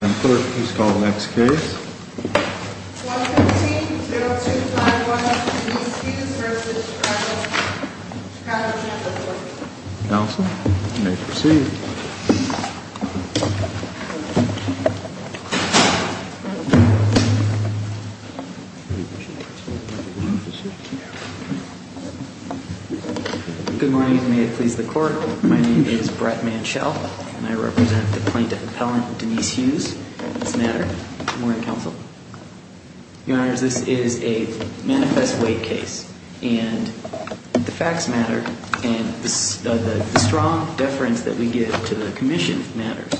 Clerk, please call the next case. 113-0251, Denise Hughes v. Chicago Campus Workers' Comp'n Counsel, you may proceed. Good morning, may it please the Court. My name is Brett Manchell, and I represent the Plaintiff Appellant, Denise Hughes, in this matter. Good morning, Counsel. Your Honors, this is a manifest weight case, and the facts matter, and the strong deference that we give to the Commission matters.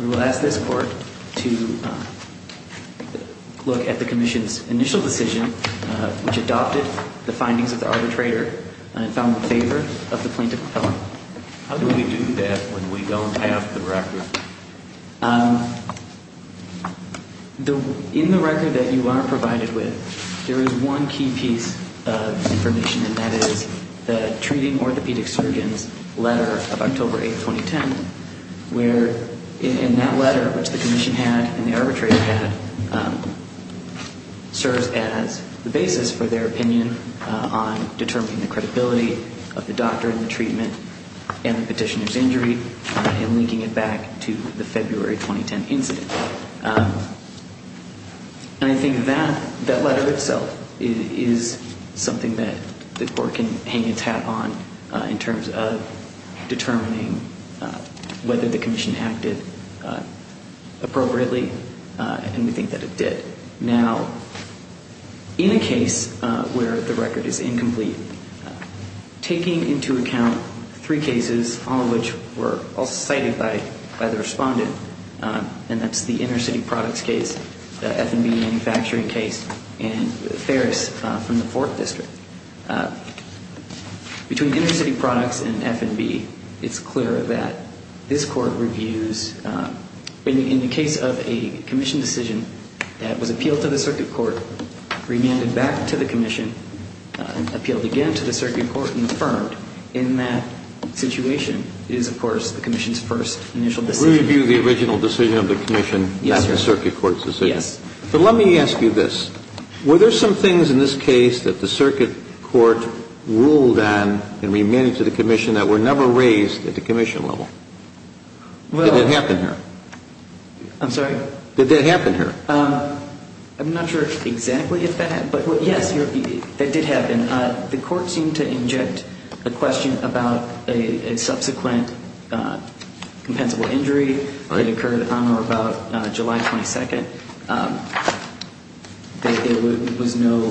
We will ask this Court to look at the Commission's initial decision, which adopted the findings of the arbitrator, and found in favor of the Plaintiff Appellant. How do we do that when we don't have the record? In the record that you are provided with, there is one key piece of information, and that is the Treating Orthopedic Surgeons letter of October 8, 2010, where in that letter, which the Commission had and the arbitrator had, serves as the basis for their opinion on determining the credibility of the doctor and the treatment and the petitioner's injury, and linking it back to the February 2010 incident. And I think that letter itself is something that the Court can hang its hat on in terms of determining whether the Commission acted appropriately, and we think that it did. Now, in a case where the record is incomplete, taking into account three cases, all of which were also cited by the Respondent, and that's the inner-city products case, the F&B manufacturing case, and the Ferris from the Fourth District, between inner-city products and F&B, it's clear that this Court reviews, in the case of a Commission decision that was appealed to the Circuit Court, remanded back to the Commission, and appealed again to the Circuit Court and affirmed, in that situation, it is, of course, the Commission's first initial decision. We review the original decision of the Commission, not the Circuit Court's decision. Yes. But let me ask you this. Were there some things in this case that the Circuit Court ruled on and remanded to the Commission that were never raised at the Commission level? Did that happen here? I'm sorry? Did that happen here? I'm not sure exactly if that happened. But, yes, that did happen. The Court seemed to inject a question about a subsequent compensable injury that occurred on or about July 22nd. There was no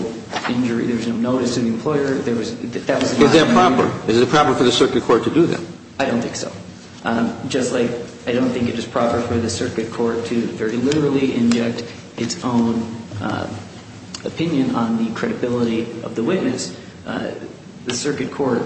injury. There was no notice to the employer. Is that proper? Is it proper for the Circuit Court to do that? I don't think so. Just like I don't think it is proper for the Circuit Court to very literally inject its own opinion on the credibility of the witness, the Circuit Court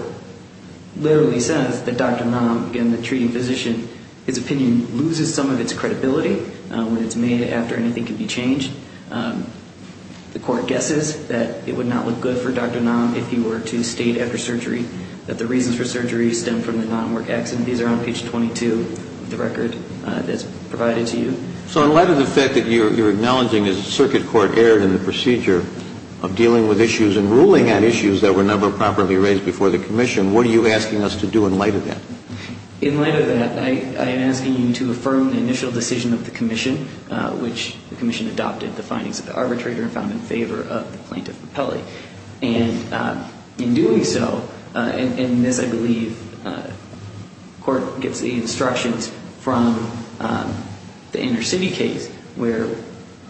literally says that Dr. Nam, again, the treating physician, his opinion loses some of its credibility when it's made after anything can be changed. The Court guesses that it would not look good for Dr. Nam if he were to state after surgery that the reasons for surgery stem from the non-work accident. These are on page 22 of the record that's provided to you. So in light of the fact that you're acknowledging that the Circuit Court erred in the procedure of dealing with issues and ruling on issues that were never properly raised before the Commission, what are you asking us to do in light of that? In light of that, I am asking you to affirm the initial decision of the Commission, which the Commission adopted the findings of the arbitrator and found in favor of the plaintiff, Capelli. And in doing so, and in this I believe court gets the instructions from the inner city case where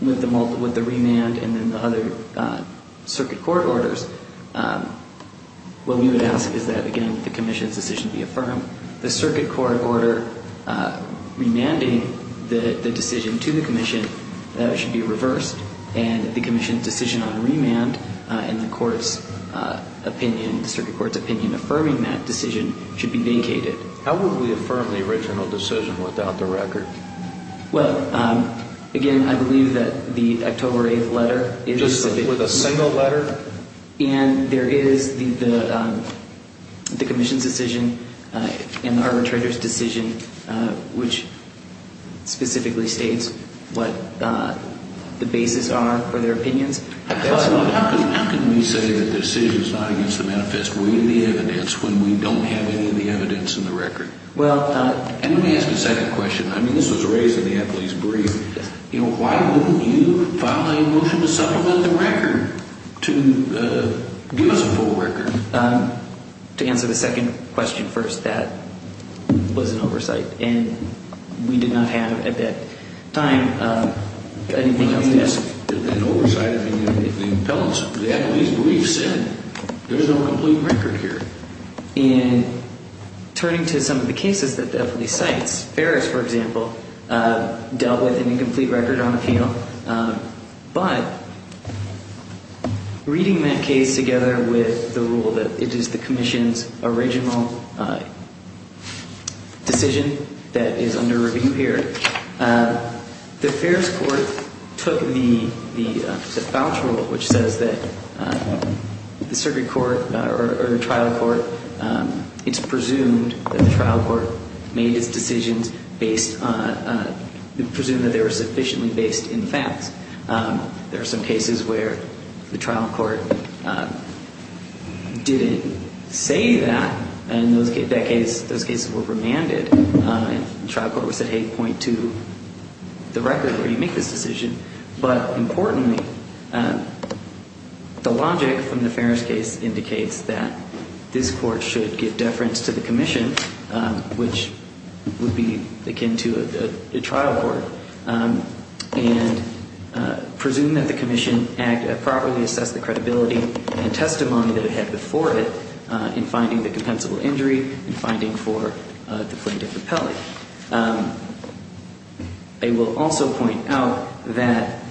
with the remand and then the other Circuit Court orders, what we would ask is that, again, the Commission's decision be affirmed. The Circuit Court order remanding the decision to the Commission should be reversed and the Commission's decision on remand and the Circuit Court's opinion affirming that decision should be vacated. How would we affirm the original decision without the record? Well, again, I believe that the October 8th letter is specific. Just with a single letter? And there is the Commission's decision and the arbitrator's decision, which specifically states what the basis are for their opinions. How can we say that the decision is not against the manifest way of the evidence when we don't have any of the evidence in the record? Let me ask a second question. I mean, this was raised in the athlete's brief. Why wouldn't you file a motion to supplement the record to give us a full record? To answer the second question first, that was an oversight. And we did not have, at that time, anything else to ask. An oversight, the athlete's brief said there is no complete record here. And turning to some of the cases that the athlete cites, Ferris, for example, dealt with an incomplete record on appeal. But reading that case together with the rule that it is the Commission's original decision that is under review here, the Ferris court took the voucher rule, which says that the circuit court or the trial court, it's presumed that the trial court made its decisions based on, presumed that they were sufficiently based in facts. There are some cases where the trial court didn't say that. In that case, those cases were remanded. And the trial court would say, hey, point to the record where you make this decision. But importantly, the logic from the Ferris case indicates that this court should give deference to the Commission, which would be akin to a trial court, and presume that the Commission properly assessed the credibility and testimony that it had before it in finding the compensable injury and finding for the plaintiff appellee. I will also point out that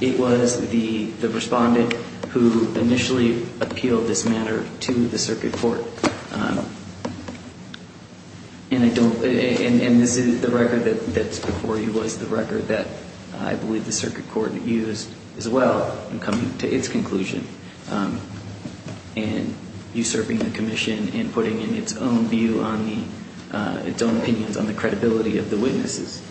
it was the respondent who initially appealed this matter to the circuit court. And I don't, and this is the record that's before you, was the record that I believe the circuit court used as well in coming to its conclusion and usurping the Commission and putting in its own view on the, its own opinions on the credibility of the witnesses.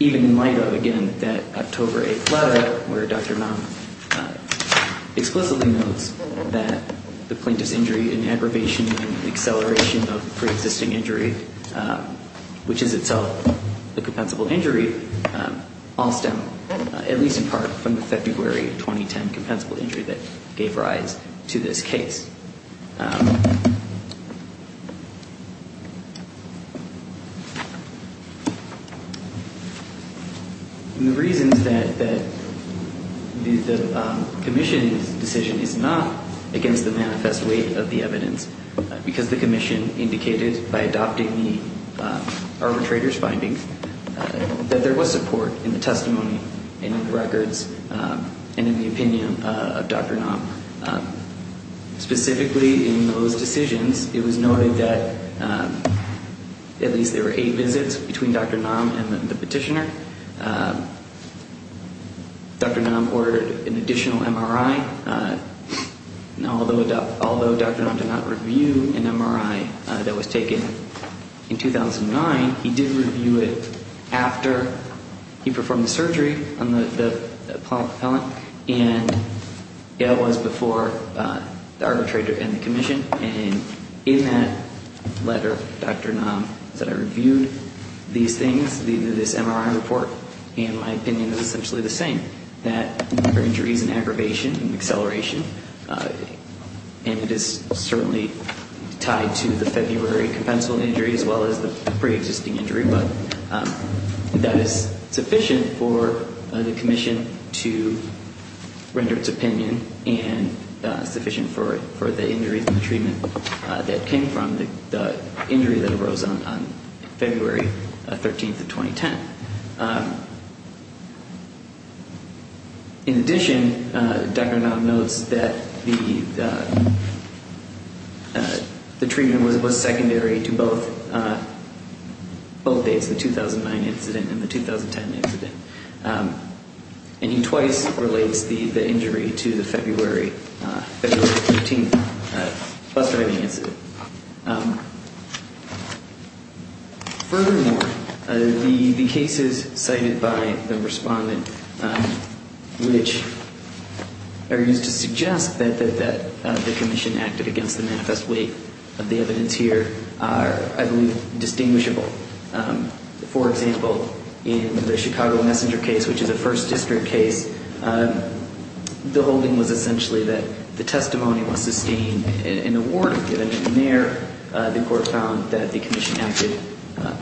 Even in light of, again, that October 8th letter where Dr. Nam explicitly notes that the plaintiff's injury and aggravation and acceleration of pre-existing injury, which is itself a compensable injury, all stem, at least in part, from the February 2010 compensable injury that gave rise to this case. And the reasons that the Commission's decision is not against the manifest weight of the evidence, because the Commission indicated, by adopting the arbitrator's findings, that there was support in the testimony and in the records and in the opinion of Dr. Nam. Specifically in those decisions, it was noted that at least there were eight visits between Dr. Nam and the petitioner. Dr. Nam ordered an additional MRI. Now, although Dr. Nam did not review an MRI that was taken in 2009, he did review it after he performed the surgery on the propellant. And it was before the arbitrator and the Commission. And in that letter, Dr. Nam said, I reviewed these things, this MRI report, and my opinion is essentially the same, that there are injuries in aggravation and acceleration. And it is certainly tied to the February compensable injury as well as the pre-existing injury. But that is sufficient for the Commission to render its opinion and sufficient for the injuries in the treatment. That came from the injury that arose on February 13th of 2010. In addition, Dr. Nam notes that the treatment was secondary to both dates, the 2009 incident and the 2010 incident. And he twice relates the injury to the February 13th bus driving incident. Furthermore, the cases cited by the respondent, which are used to suggest that the Commission acted against the manifest weight of the evidence here, are, I believe, distinguishable. For example, in the Chicago Messenger case, which is a First District case, the holding was essentially that the testimony was sustained in a ward. And there, the Court found that the Commission acted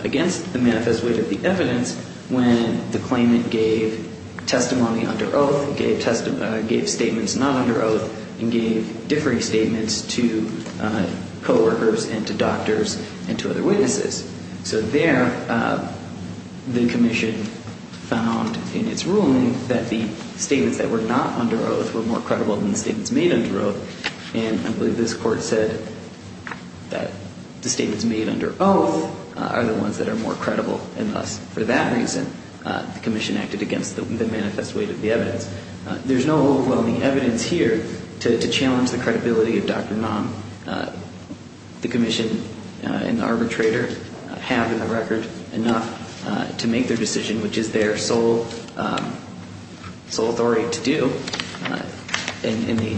against the manifest weight of the evidence when the claimant gave testimony under oath, gave statements not under oath, and gave differing statements to coworkers and to doctors and to other witnesses. So there, the Commission found in its ruling that the statements that were not under oath were more credible than the statements made under oath. And I believe this Court said that the statements made under oath are the ones that are more credible. And thus, for that reason, the Commission acted against the manifest weight of the evidence. There's no overwhelming evidence here to challenge the credibility of Dr. Nam. The Commission and the arbitrator have, in the record, enough to make their decision, which is their sole authority to do, and they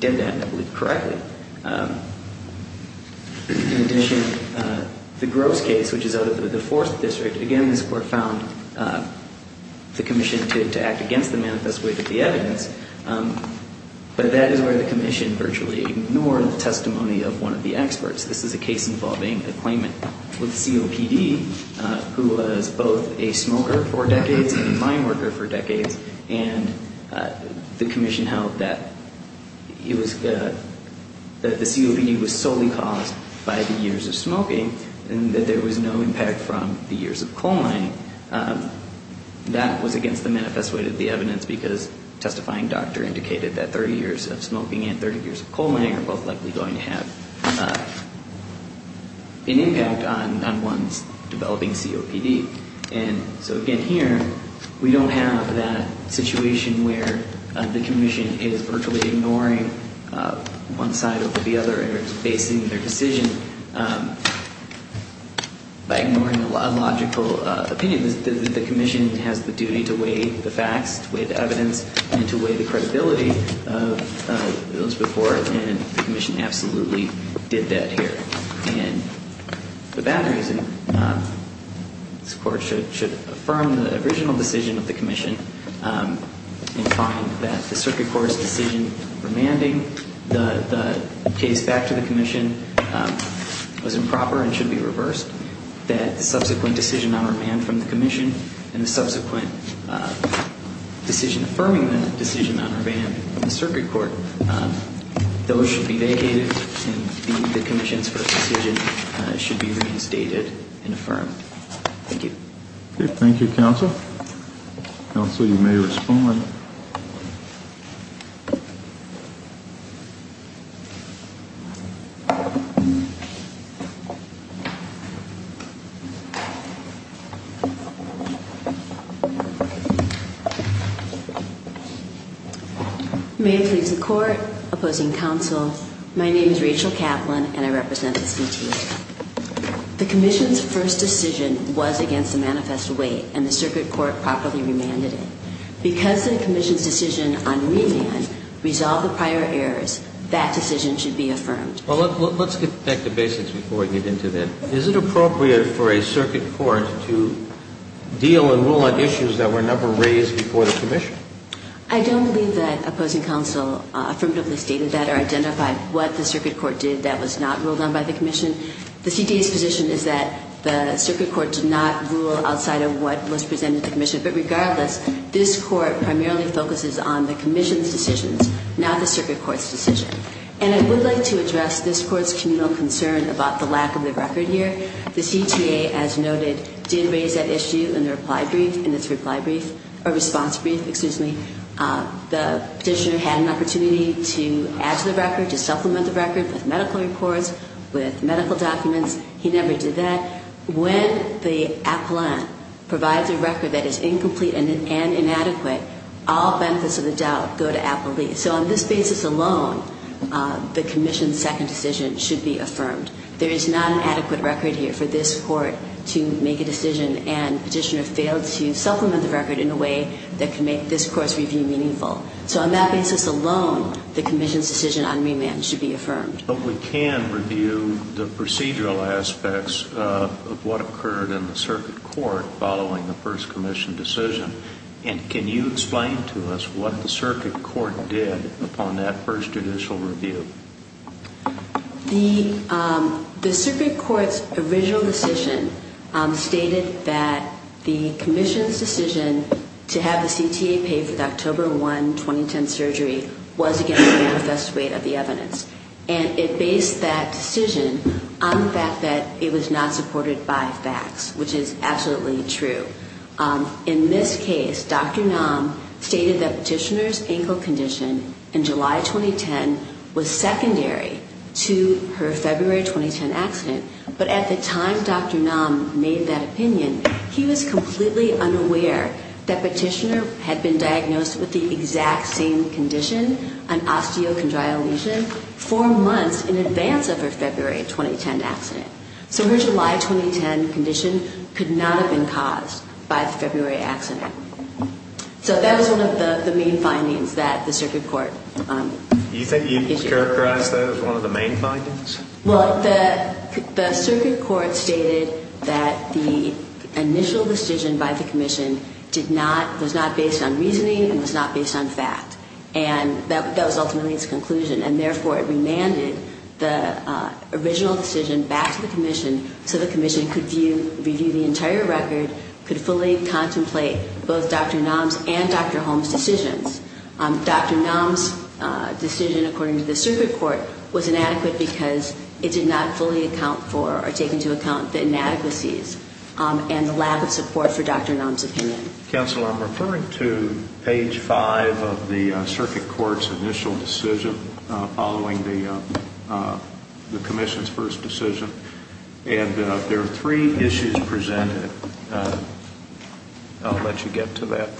did that, I believe, correctly. In addition, the Gross case, which is out of the Fourth District, again, this Court found the Commission to act against the manifest weight of the evidence, but that is where the Commission virtually ignored the testimony of one of the experts. This is a case involving a claimant with COPD who was both a smoker for decades and a mine worker for decades, and the Commission held that the COPD was solely caused by the years of smoking and that there was no impact from the years of coal mining. That was against the manifest weight of the evidence because testifying doctor indicated that 30 years of smoking and 30 years of coal mining are both likely going to have an impact on one's developing COPD. And so, again, here we don't have that situation where the Commission is virtually ignoring one side or the other and facing their decision by ignoring a logical opinion. The Commission has the duty to weigh the facts, to weigh the evidence, and to weigh the credibility of those before, and the Commission absolutely did that here. And for that reason, this Court should affirm the original decision of the Commission in finding that the Circuit Court's decision remanding the case back to the Commission was improper and should be reversed, that the subsequent decision on remand from the Commission and the subsequent decision affirming the decision on remand in the Circuit Court, those should be vacated and the Commission's first decision should be reinstated and affirmed. Thank you. Thank you, Counsel. Counsel, you may respond. May it please the Court. Opposing Counsel, my name is Rachel Kaplan and I represent the CTC. The Commission's first decision was against the manifest weight and the Circuit Court properly remanded it. Because the Commission's decision on remand resolved the prior errors, that decision should be affirmed. Well, let's get back to basics before we get into that. Is it appropriate for a Circuit Court to deal and rule on issues that were never raised before the Commission? I don't believe that Opposing Counsel affirmatively stated that or identified what the Circuit Court did that was not ruled on by the Commission. The CTA's position is that the Circuit Court did not rule outside of what was presented to the Commission. But regardless, this Court primarily focuses on the Commission's decisions, not the Circuit Court's decision. And I would like to address this Court's communal concern about the lack of the record here. The CTA, as noted, did raise that issue in the reply brief, in its reply brief, or response brief, excuse me. The Petitioner had an opportunity to add to the record, to supplement the record with medical reports, with medical documents. He never did that. When the appellant provides a record that is incomplete and inadequate, all benefits of the doubt go to appellees. So on this basis alone, the Commission's second decision should be affirmed. There is not an adequate record here for this Court to make a decision, and Petitioner failed to supplement the record in a way that can make this Court's review meaningful. So on that basis alone, the Commission's decision on remand should be affirmed. But we can review the procedural aspects of what occurred in the Circuit Court following the First Commission decision. And can you explain to us what the Circuit Court did upon that first judicial review? The Circuit Court's original decision stated that the Commission's decision to have a remand and to have the CTA pay for the October 1, 2010 surgery was against the manifest weight of the evidence. And it based that decision on the fact that it was not supported by facts, which is absolutely true. In this case, Dr. Nam stated that Petitioner's ankle condition in July 2010 was secondary to her February 2010 accident, but at the time Dr. Nam made that opinion, he was completely unaware that Petitioner had been diagnosed with the exact same condition, an osteochondrial lesion, four months in advance of her February 2010 accident. So her July 2010 condition could not have been caused by the February accident. So that was one of the main findings that the Circuit Court issued. Can you characterize that as one of the main findings? Well, the Circuit Court stated that the initial decision by the Commission did not, was not based on reasoning and was not based on fact. And that was ultimately its conclusion. And therefore, it remanded the original decision back to the Commission so the Commission could review the entire record, could fully contemplate both Dr. Nam's and Dr. Holmes' decisions. Dr. Nam's decision, according to the Circuit Court, was inadequate because it did not fully account for or take into account the inadequacies and the lack of support for Dr. Nam's opinion. Counsel, I'm referring to page 5 of the Circuit Court's initial decision following the Commission's first decision. And there are three issues presented. I'll let you get to that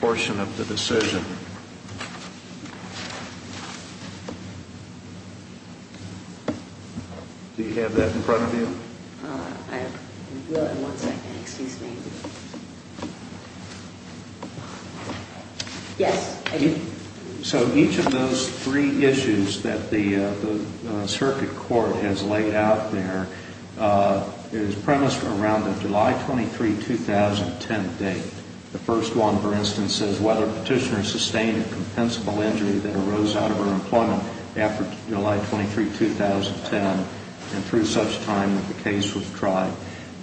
portion of the decision. Do you have that in front of you? I will in one second. Excuse me. Yes. So each of those three issues that the Circuit Court has laid out there is premised around the July 23, 2010 date. The first one, for instance, says whether Petitioner sustained a compensable injury that arose out of her employment after July 23, 2010 and through such time that the case was tried.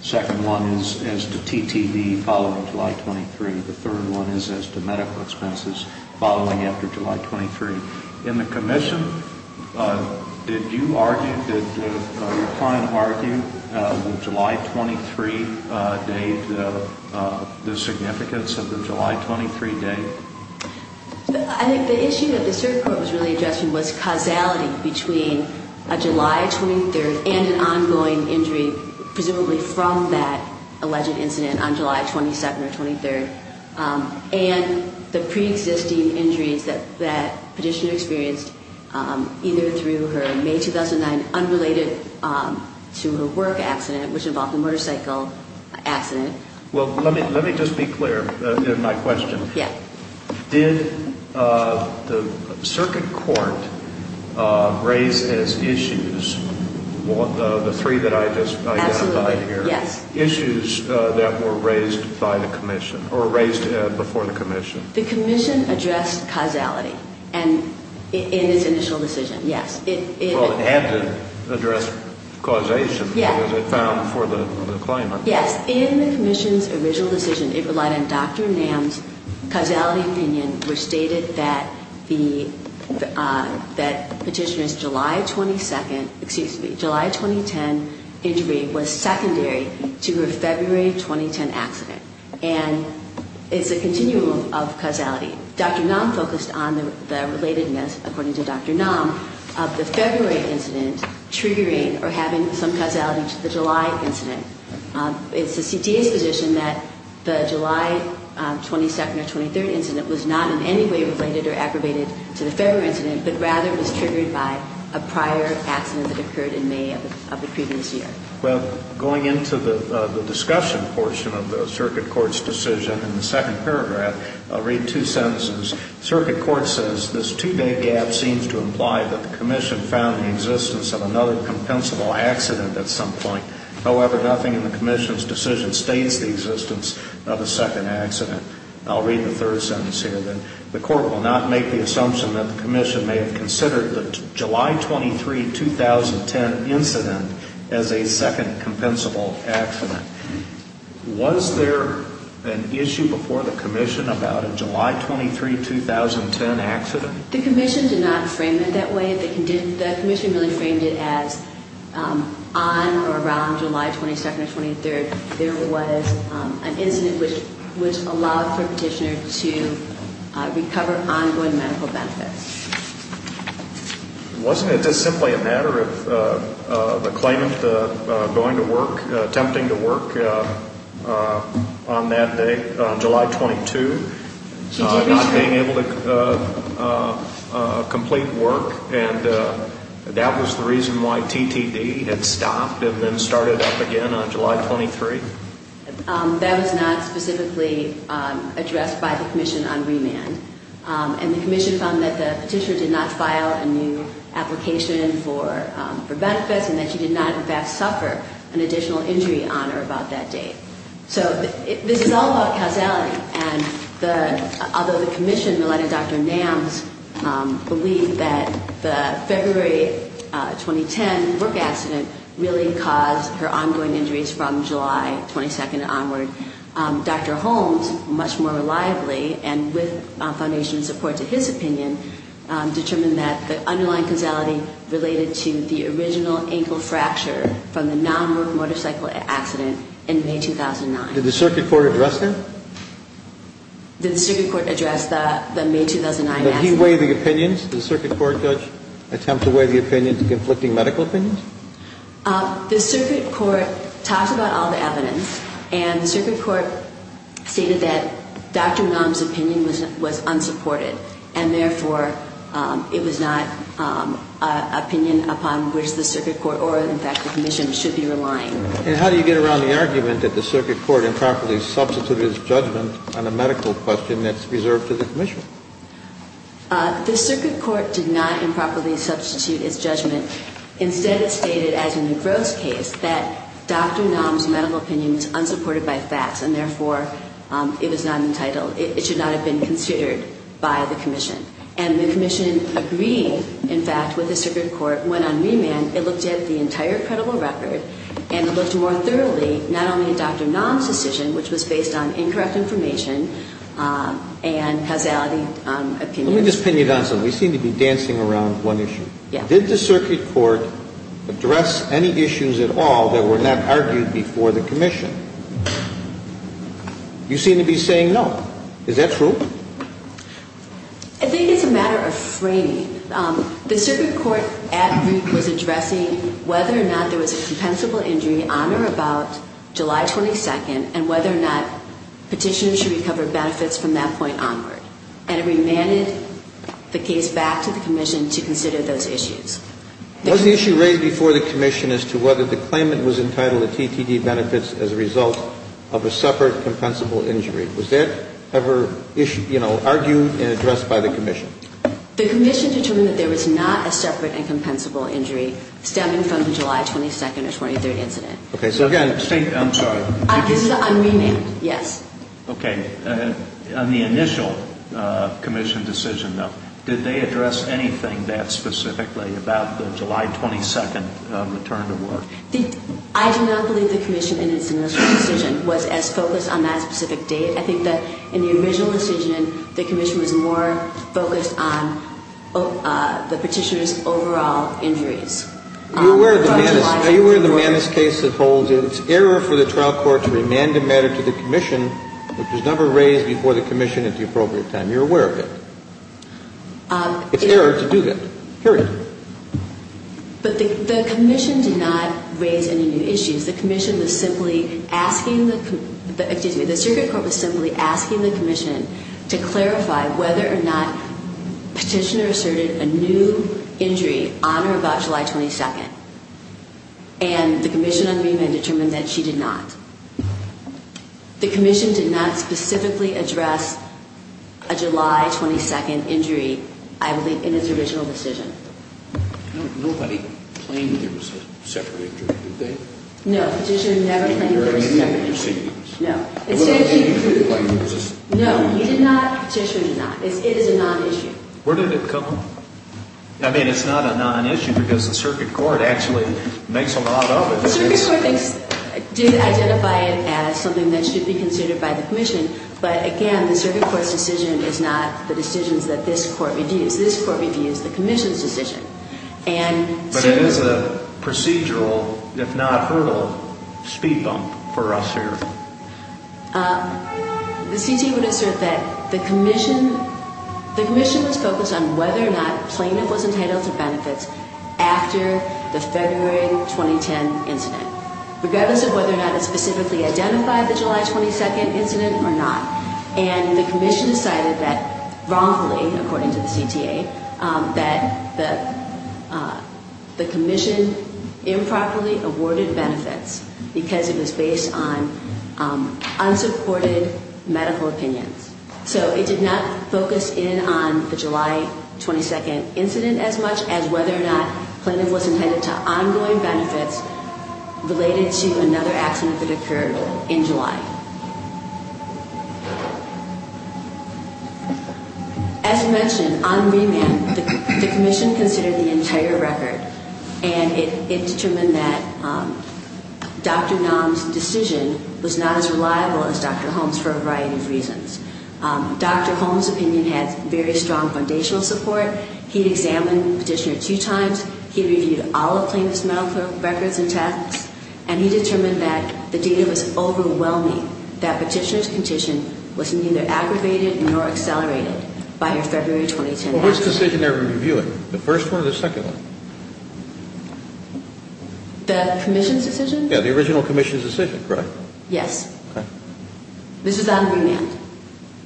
The second one is as to TTD following July 23. The third one is as to medical expenses following after July 23. In the Commission, did you argue, did your client argue the July 23 date, the significance of the July 23 date? I think the issue that the Circuit Court was really addressing was causality between a July 23 and an ongoing injury, presumably from that alleged incident on July 22 or 23, and the preexisting injuries that Petitioner experienced either through her May 2009, unrelated to her work accident, which involved a motorcycle accident. Well, let me just be clear in my question. Did the Circuit Court raise as issues the three that I just identified here, issues that were raised by the Commission or raised before the Commission? The Commission addressed causality in its initial decision, yes. Well, it had to address causation, as it found before the claimant. Yes. In the Commission's original decision, it relied on Dr. Nam's causality opinion, which stated that Petitioner's July 22, excuse me, July 2010 injury was secondary to her February 2010 accident, and Dr. Nam focused on the relatedness, according to Dr. Nam, of the February incident triggering or having some causality to the July incident. It's the CTA's position that the July 22nd or 23rd incident was not in any way related or aggravated to the February incident, but rather was triggered by a prior accident that occurred in May of the previous year. Well, going into the discussion portion of the Circuit Court's decision in the second paragraph, I'll read two sentences. Circuit Court says this two-day gap seems to imply that the Commission found the existence of another compensable accident at some point. However, nothing in the Commission's decision states the existence of a second accident. I'll read the third sentence here then. The Commission did not frame it that way. The Commission really framed it as on or around July 22nd or 23rd there was an incident which allowed for Petitioner to recover ongoing medical benefits. Wasn't it just simply a matter of the claimant going to work, attempting to work on that day, July 22nd, not being able to complete work, and that was the reason why TTD had stopped and then started up again on July 23rd? That was not specifically addressed by the Commission on remand. And the Commission found that the Petitioner did not file a new application for benefits and that she did not in fact suffer an additional injury on or about that date. So this is all about causality, and although the Commission, led by Dr. Nams, believed that the February 2010 work accident really caused her ongoing injuries from July 22nd onward, Dr. Holmes, much more reliably and with foundation support to his opinion, determined that the underlying causality related to the original ankle fracture from the non-work motorcycle accident in May 2009. Did the Circuit Court address that? Did the Circuit Court address the May 2009 accident? Did he weigh the opinions? Did the Circuit Court judge attempt to weigh the opinions, conflicting medical opinions? The Circuit Court talked about all the evidence, and the Circuit Court stated that Dr. Nams' opinion was unsupported, and therefore it was not an opinion upon which the Circuit Court or in fact the Commission should be relying. And how do you get around the argument that the Circuit Court improperly substituted his judgment on a medical question that's reserved to the Commission? The Circuit Court did not improperly substitute his judgment. Instead, it stated, as in the Gross case, that Dr. Nams' medical opinion was unsupported by facts, and therefore it was not entitled, it should not have been considered by the Commission. And the Commission agreed, in fact, with the Circuit Court. When on remand, it looked at the entire credible record and looked more thoroughly, not only at Dr. Nams' decision, which was based on incorrect information and causality opinions, but also at Dr. Holmes' opinion. And Ms. Pena-Donson, we seem to be dancing around one issue. Did the Circuit Court address any issues at all that were not argued before the Commission? You seem to be saying no. Is that true? I think it's a matter of framing. The Circuit Court at root was addressing whether or not there was a compensable injury on or about July 22nd, and whether or not Petitioners should recover benefits from that point onward. And it remanded the case back to the Commission to consider those issues. Was the issue raised before the Commission as to whether the claimant was entitled to TTD benefits as a result of a separate compensable injury? Was that ever, you know, argued and addressed by the Commission? The Commission determined that there was not a separate and compensable injury stemming from the July 22nd or 23rd incident. Okay. So again, I'm sorry. This is unremanded, yes. Okay. On the initial Commission decision, though, did they address anything that specifically about the July 22nd return to work? I do not believe the Commission in its initial decision was as focused on that specific date. I think that in the original decision, the Commission was more focused on the Petitioner's overall injuries. Are you aware of the Manus case that holds that it's error for the trial court to remand a matter to the Commission that was never raised before the Commission at the appropriate time? You're aware of it. It's error to do that, period. But the Commission did not raise any new issues. The Commission was simply asking the – excuse me, the circuit court was simply asking the Commission to clarify whether or not Petitioner asserted a new injury on or about July 22nd. And the Commission on remand determined that she did not. The Commission did not specifically address a July 22nd injury, I believe, in its original decision. Nobody claimed there was a separate injury, did they? No, Petitioner never claimed there was a separate injury. No. No, he did not, Petitioner did not. It is a non-issue. Where did it come from? I mean, it's not a non-issue because the circuit court actually makes a lot of it. The circuit court did identify it as something that should be considered by the Commission. But again, the circuit court's decision is not the decisions that this court reviews. This court reviews the Commission's decision. But it is a procedural, if not hurdle, speed bump for us here. The CTA would assert that the Commission – the Commission was focused on whether or not a plaintiff was entitled to benefits after the February 2010 incident, regardless of whether or not it specifically identified the July 22nd incident or not. And the Commission decided that wrongfully, according to the CTA, that the Commission improperly awarded benefits because it was based on unsupported medical opinions. So it did not focus in on the July 22nd incident as much as whether or not plaintiff was entitled to ongoing benefits related to another accident that occurred in July. As mentioned, on remand, the Commission considered the entire record. And it determined that Dr. Naum's decision was not as reliable as Dr. Holmes' for a variety of reasons. Dr. Holmes' opinion had very strong foundational support. He examined the petitioner two times. He reviewed all of plaintiff's medical records and texts. And he determined that the data was overwhelming, that petitioner's condition was neither aggravated nor accelerated by her February 2010 accident. Well, which decision are we reviewing? The first one or the second one? The Commission's decision? Yeah, the original Commission's decision, correct? Yes. Okay. This is on remand.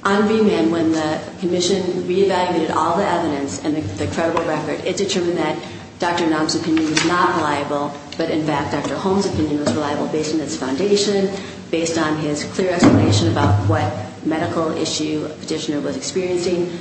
On remand, when the Commission reevaluated all the evidence and the credible record, it determined that Dr. Naum's opinion was not reliable, but, in fact, Dr. Holmes' opinion was reliable based on its foundation, based on his clear explanation about what medical issue petitioner was experiencing.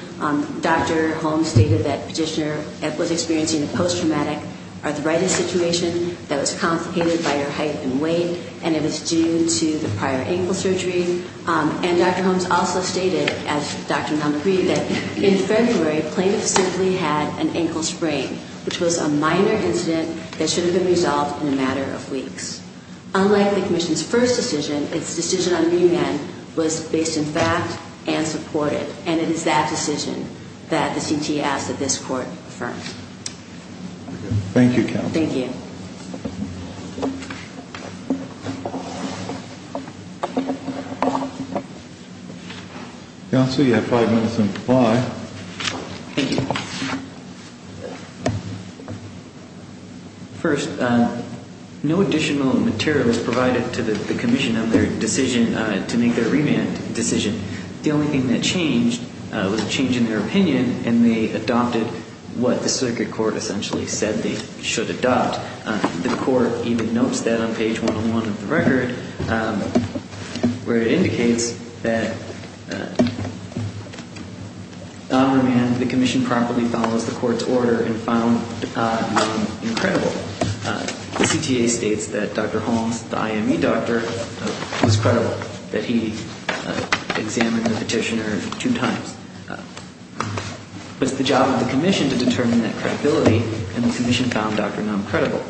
Dr. Holmes stated that petitioner was experiencing a post-traumatic arthritis situation that was complicated by her height and weight, and it was due to the prior ankle surgery. And Dr. Holmes also stated, as Dr. Naum agreed, that in February, plaintiff simply had an ankle sprain, which was a minor incident that should have been resolved in a matter of weeks. Unlike the Commission's first decision, its decision on remand was based in fact and supported. And it is that decision that the CT asked that this Court affirm. Thank you, Counsel. Thank you. Counsel, you have five minutes on reply. Thank you. First, no additional material was provided to the Commission on their decision to make their remand decision. The only thing that changed was a change in their opinion, and they adopted what the circuit court essentially said they should adopt. The Court even notes that on page 101 of the record, where it indicates that on remand, the Commission properly follows the Court's order and found Naum incredible. The CTA states that Dr. Holmes, the IME doctor, was credible, that he examined the petitioner two times. But it's the job of the Commission to determine that credibility, and the Commission found Dr. Naum credible.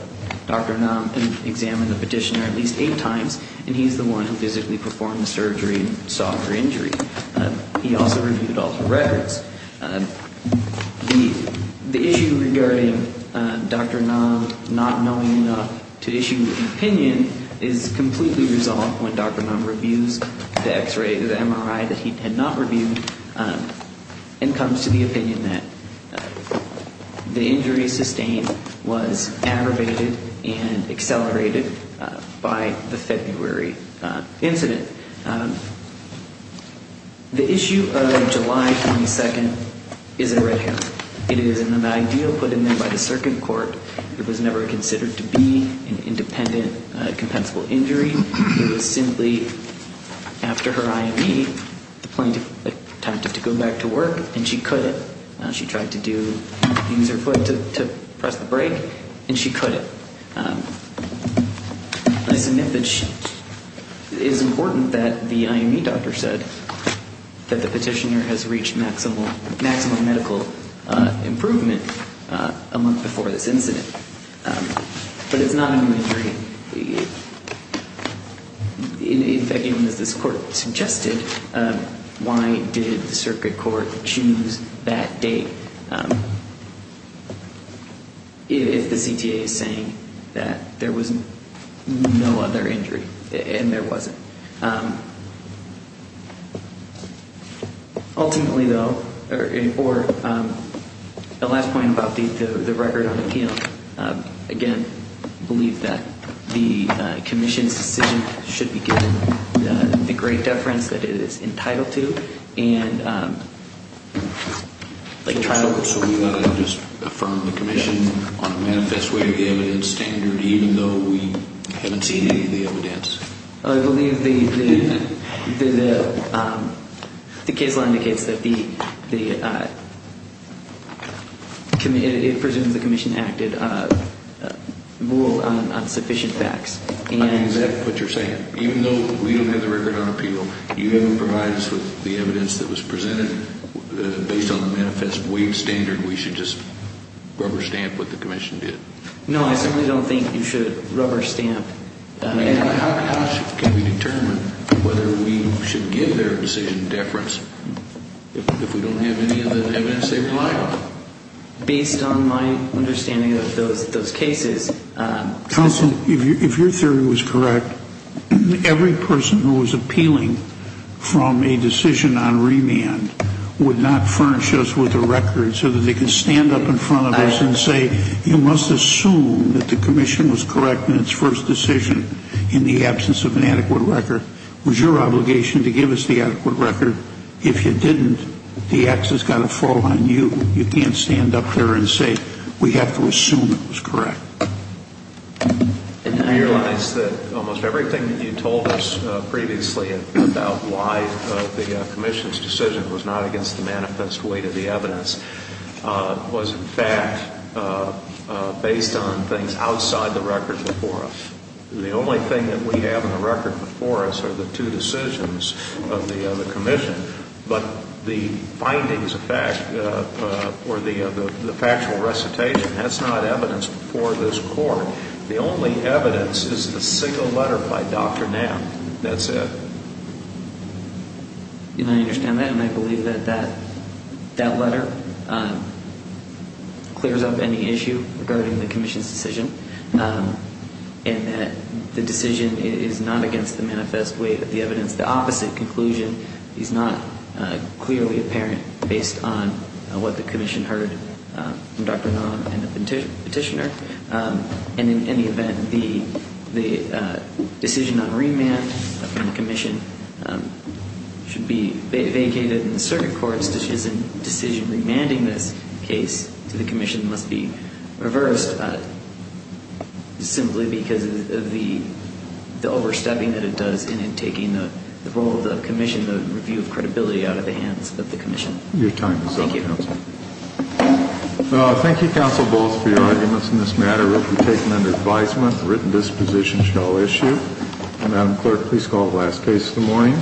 Dr. Naum examined the petitioner at least eight times, and he's the one who physically performed the surgery and solved her injury. He also reviewed all her records. The issue regarding Dr. Naum not knowing enough to issue an opinion is completely resolved when Dr. Naum reviews the MRI that he had not reviewed and comes to the opinion that the injury sustained was aggravated and accelerated by the February incident. The issue of July 22nd is in red here. It is in the mag deal put in there by the circuit court. It was never considered to be an independent, compensable injury. It was simply, after her IME, the plaintiff attempted to go back to work, and she couldn't. She tried to use her foot to press the brake, and she couldn't. I submit that it is important that the IME doctor said that the petitioner has reached maximum medical improvement a month before this incident. But it's not a new injury. In fact, even as this court suggested, why did the circuit court choose that date if the CTA is saying that there was no other injury, and there wasn't? Ultimately, though, or the last point about the record on appeal, again, I believe that the commission's decision should be given the great deference that it is entitled to. So we ought to just affirm the commission on a manifest way of the evidence standard, even though we haven't seen any of the evidence? I believe the case law indicates that it presumes the commission acted on sufficient facts. I think that's exactly what you're saying. Even though we don't have the record on appeal, you haven't provided us with the evidence that was presented based on the manifest way standard. We should just rubber stamp what the commission did. No, I certainly don't think you should rubber stamp. How can we determine whether we should give their decision deference if we don't have any of the evidence they rely on? Based on my understanding of those cases. Counsel, if your theory was correct, every person who was appealing from a decision on remand would not furnish us with a record so that they can stand up in front of us and say, you must assume that the commission was correct in its first decision in the absence of an adequate record. It was your obligation to give us the adequate record. If you didn't, the X has got to fall on you. You can't stand up there and say we have to assume it was correct. And I realize that almost everything that you told us previously about why the commission's decision was not against the manifest way to the evidence was in fact based on things outside the record before us. The only thing that we have in the record before us are the two decisions of the commission. But the findings of fact or the factual recitation, that's not evidence before this court. The only evidence is the single letter by Dr. Knapp. That's it. And I understand that, and I believe that that letter clears up any issue regarding the commission's decision and that the decision is not against the manifest way to the evidence. The opposite conclusion is not clearly apparent based on what the commission heard from Dr. Knapp and the petitioner. And in any event, the decision on remand from the commission should be vacated. And the circuit court's decision remanding this case to the commission must be reversed simply because of the overstepping that it does in taking the role of the commission, the review of credibility out of the hands of the commission. Your time is up, counsel. Thank you. Thank you, counsel, both for your arguments in this matter. We'll take them under advisement. The written disposition shall issue. Madam Clerk, please call the last case of the morning.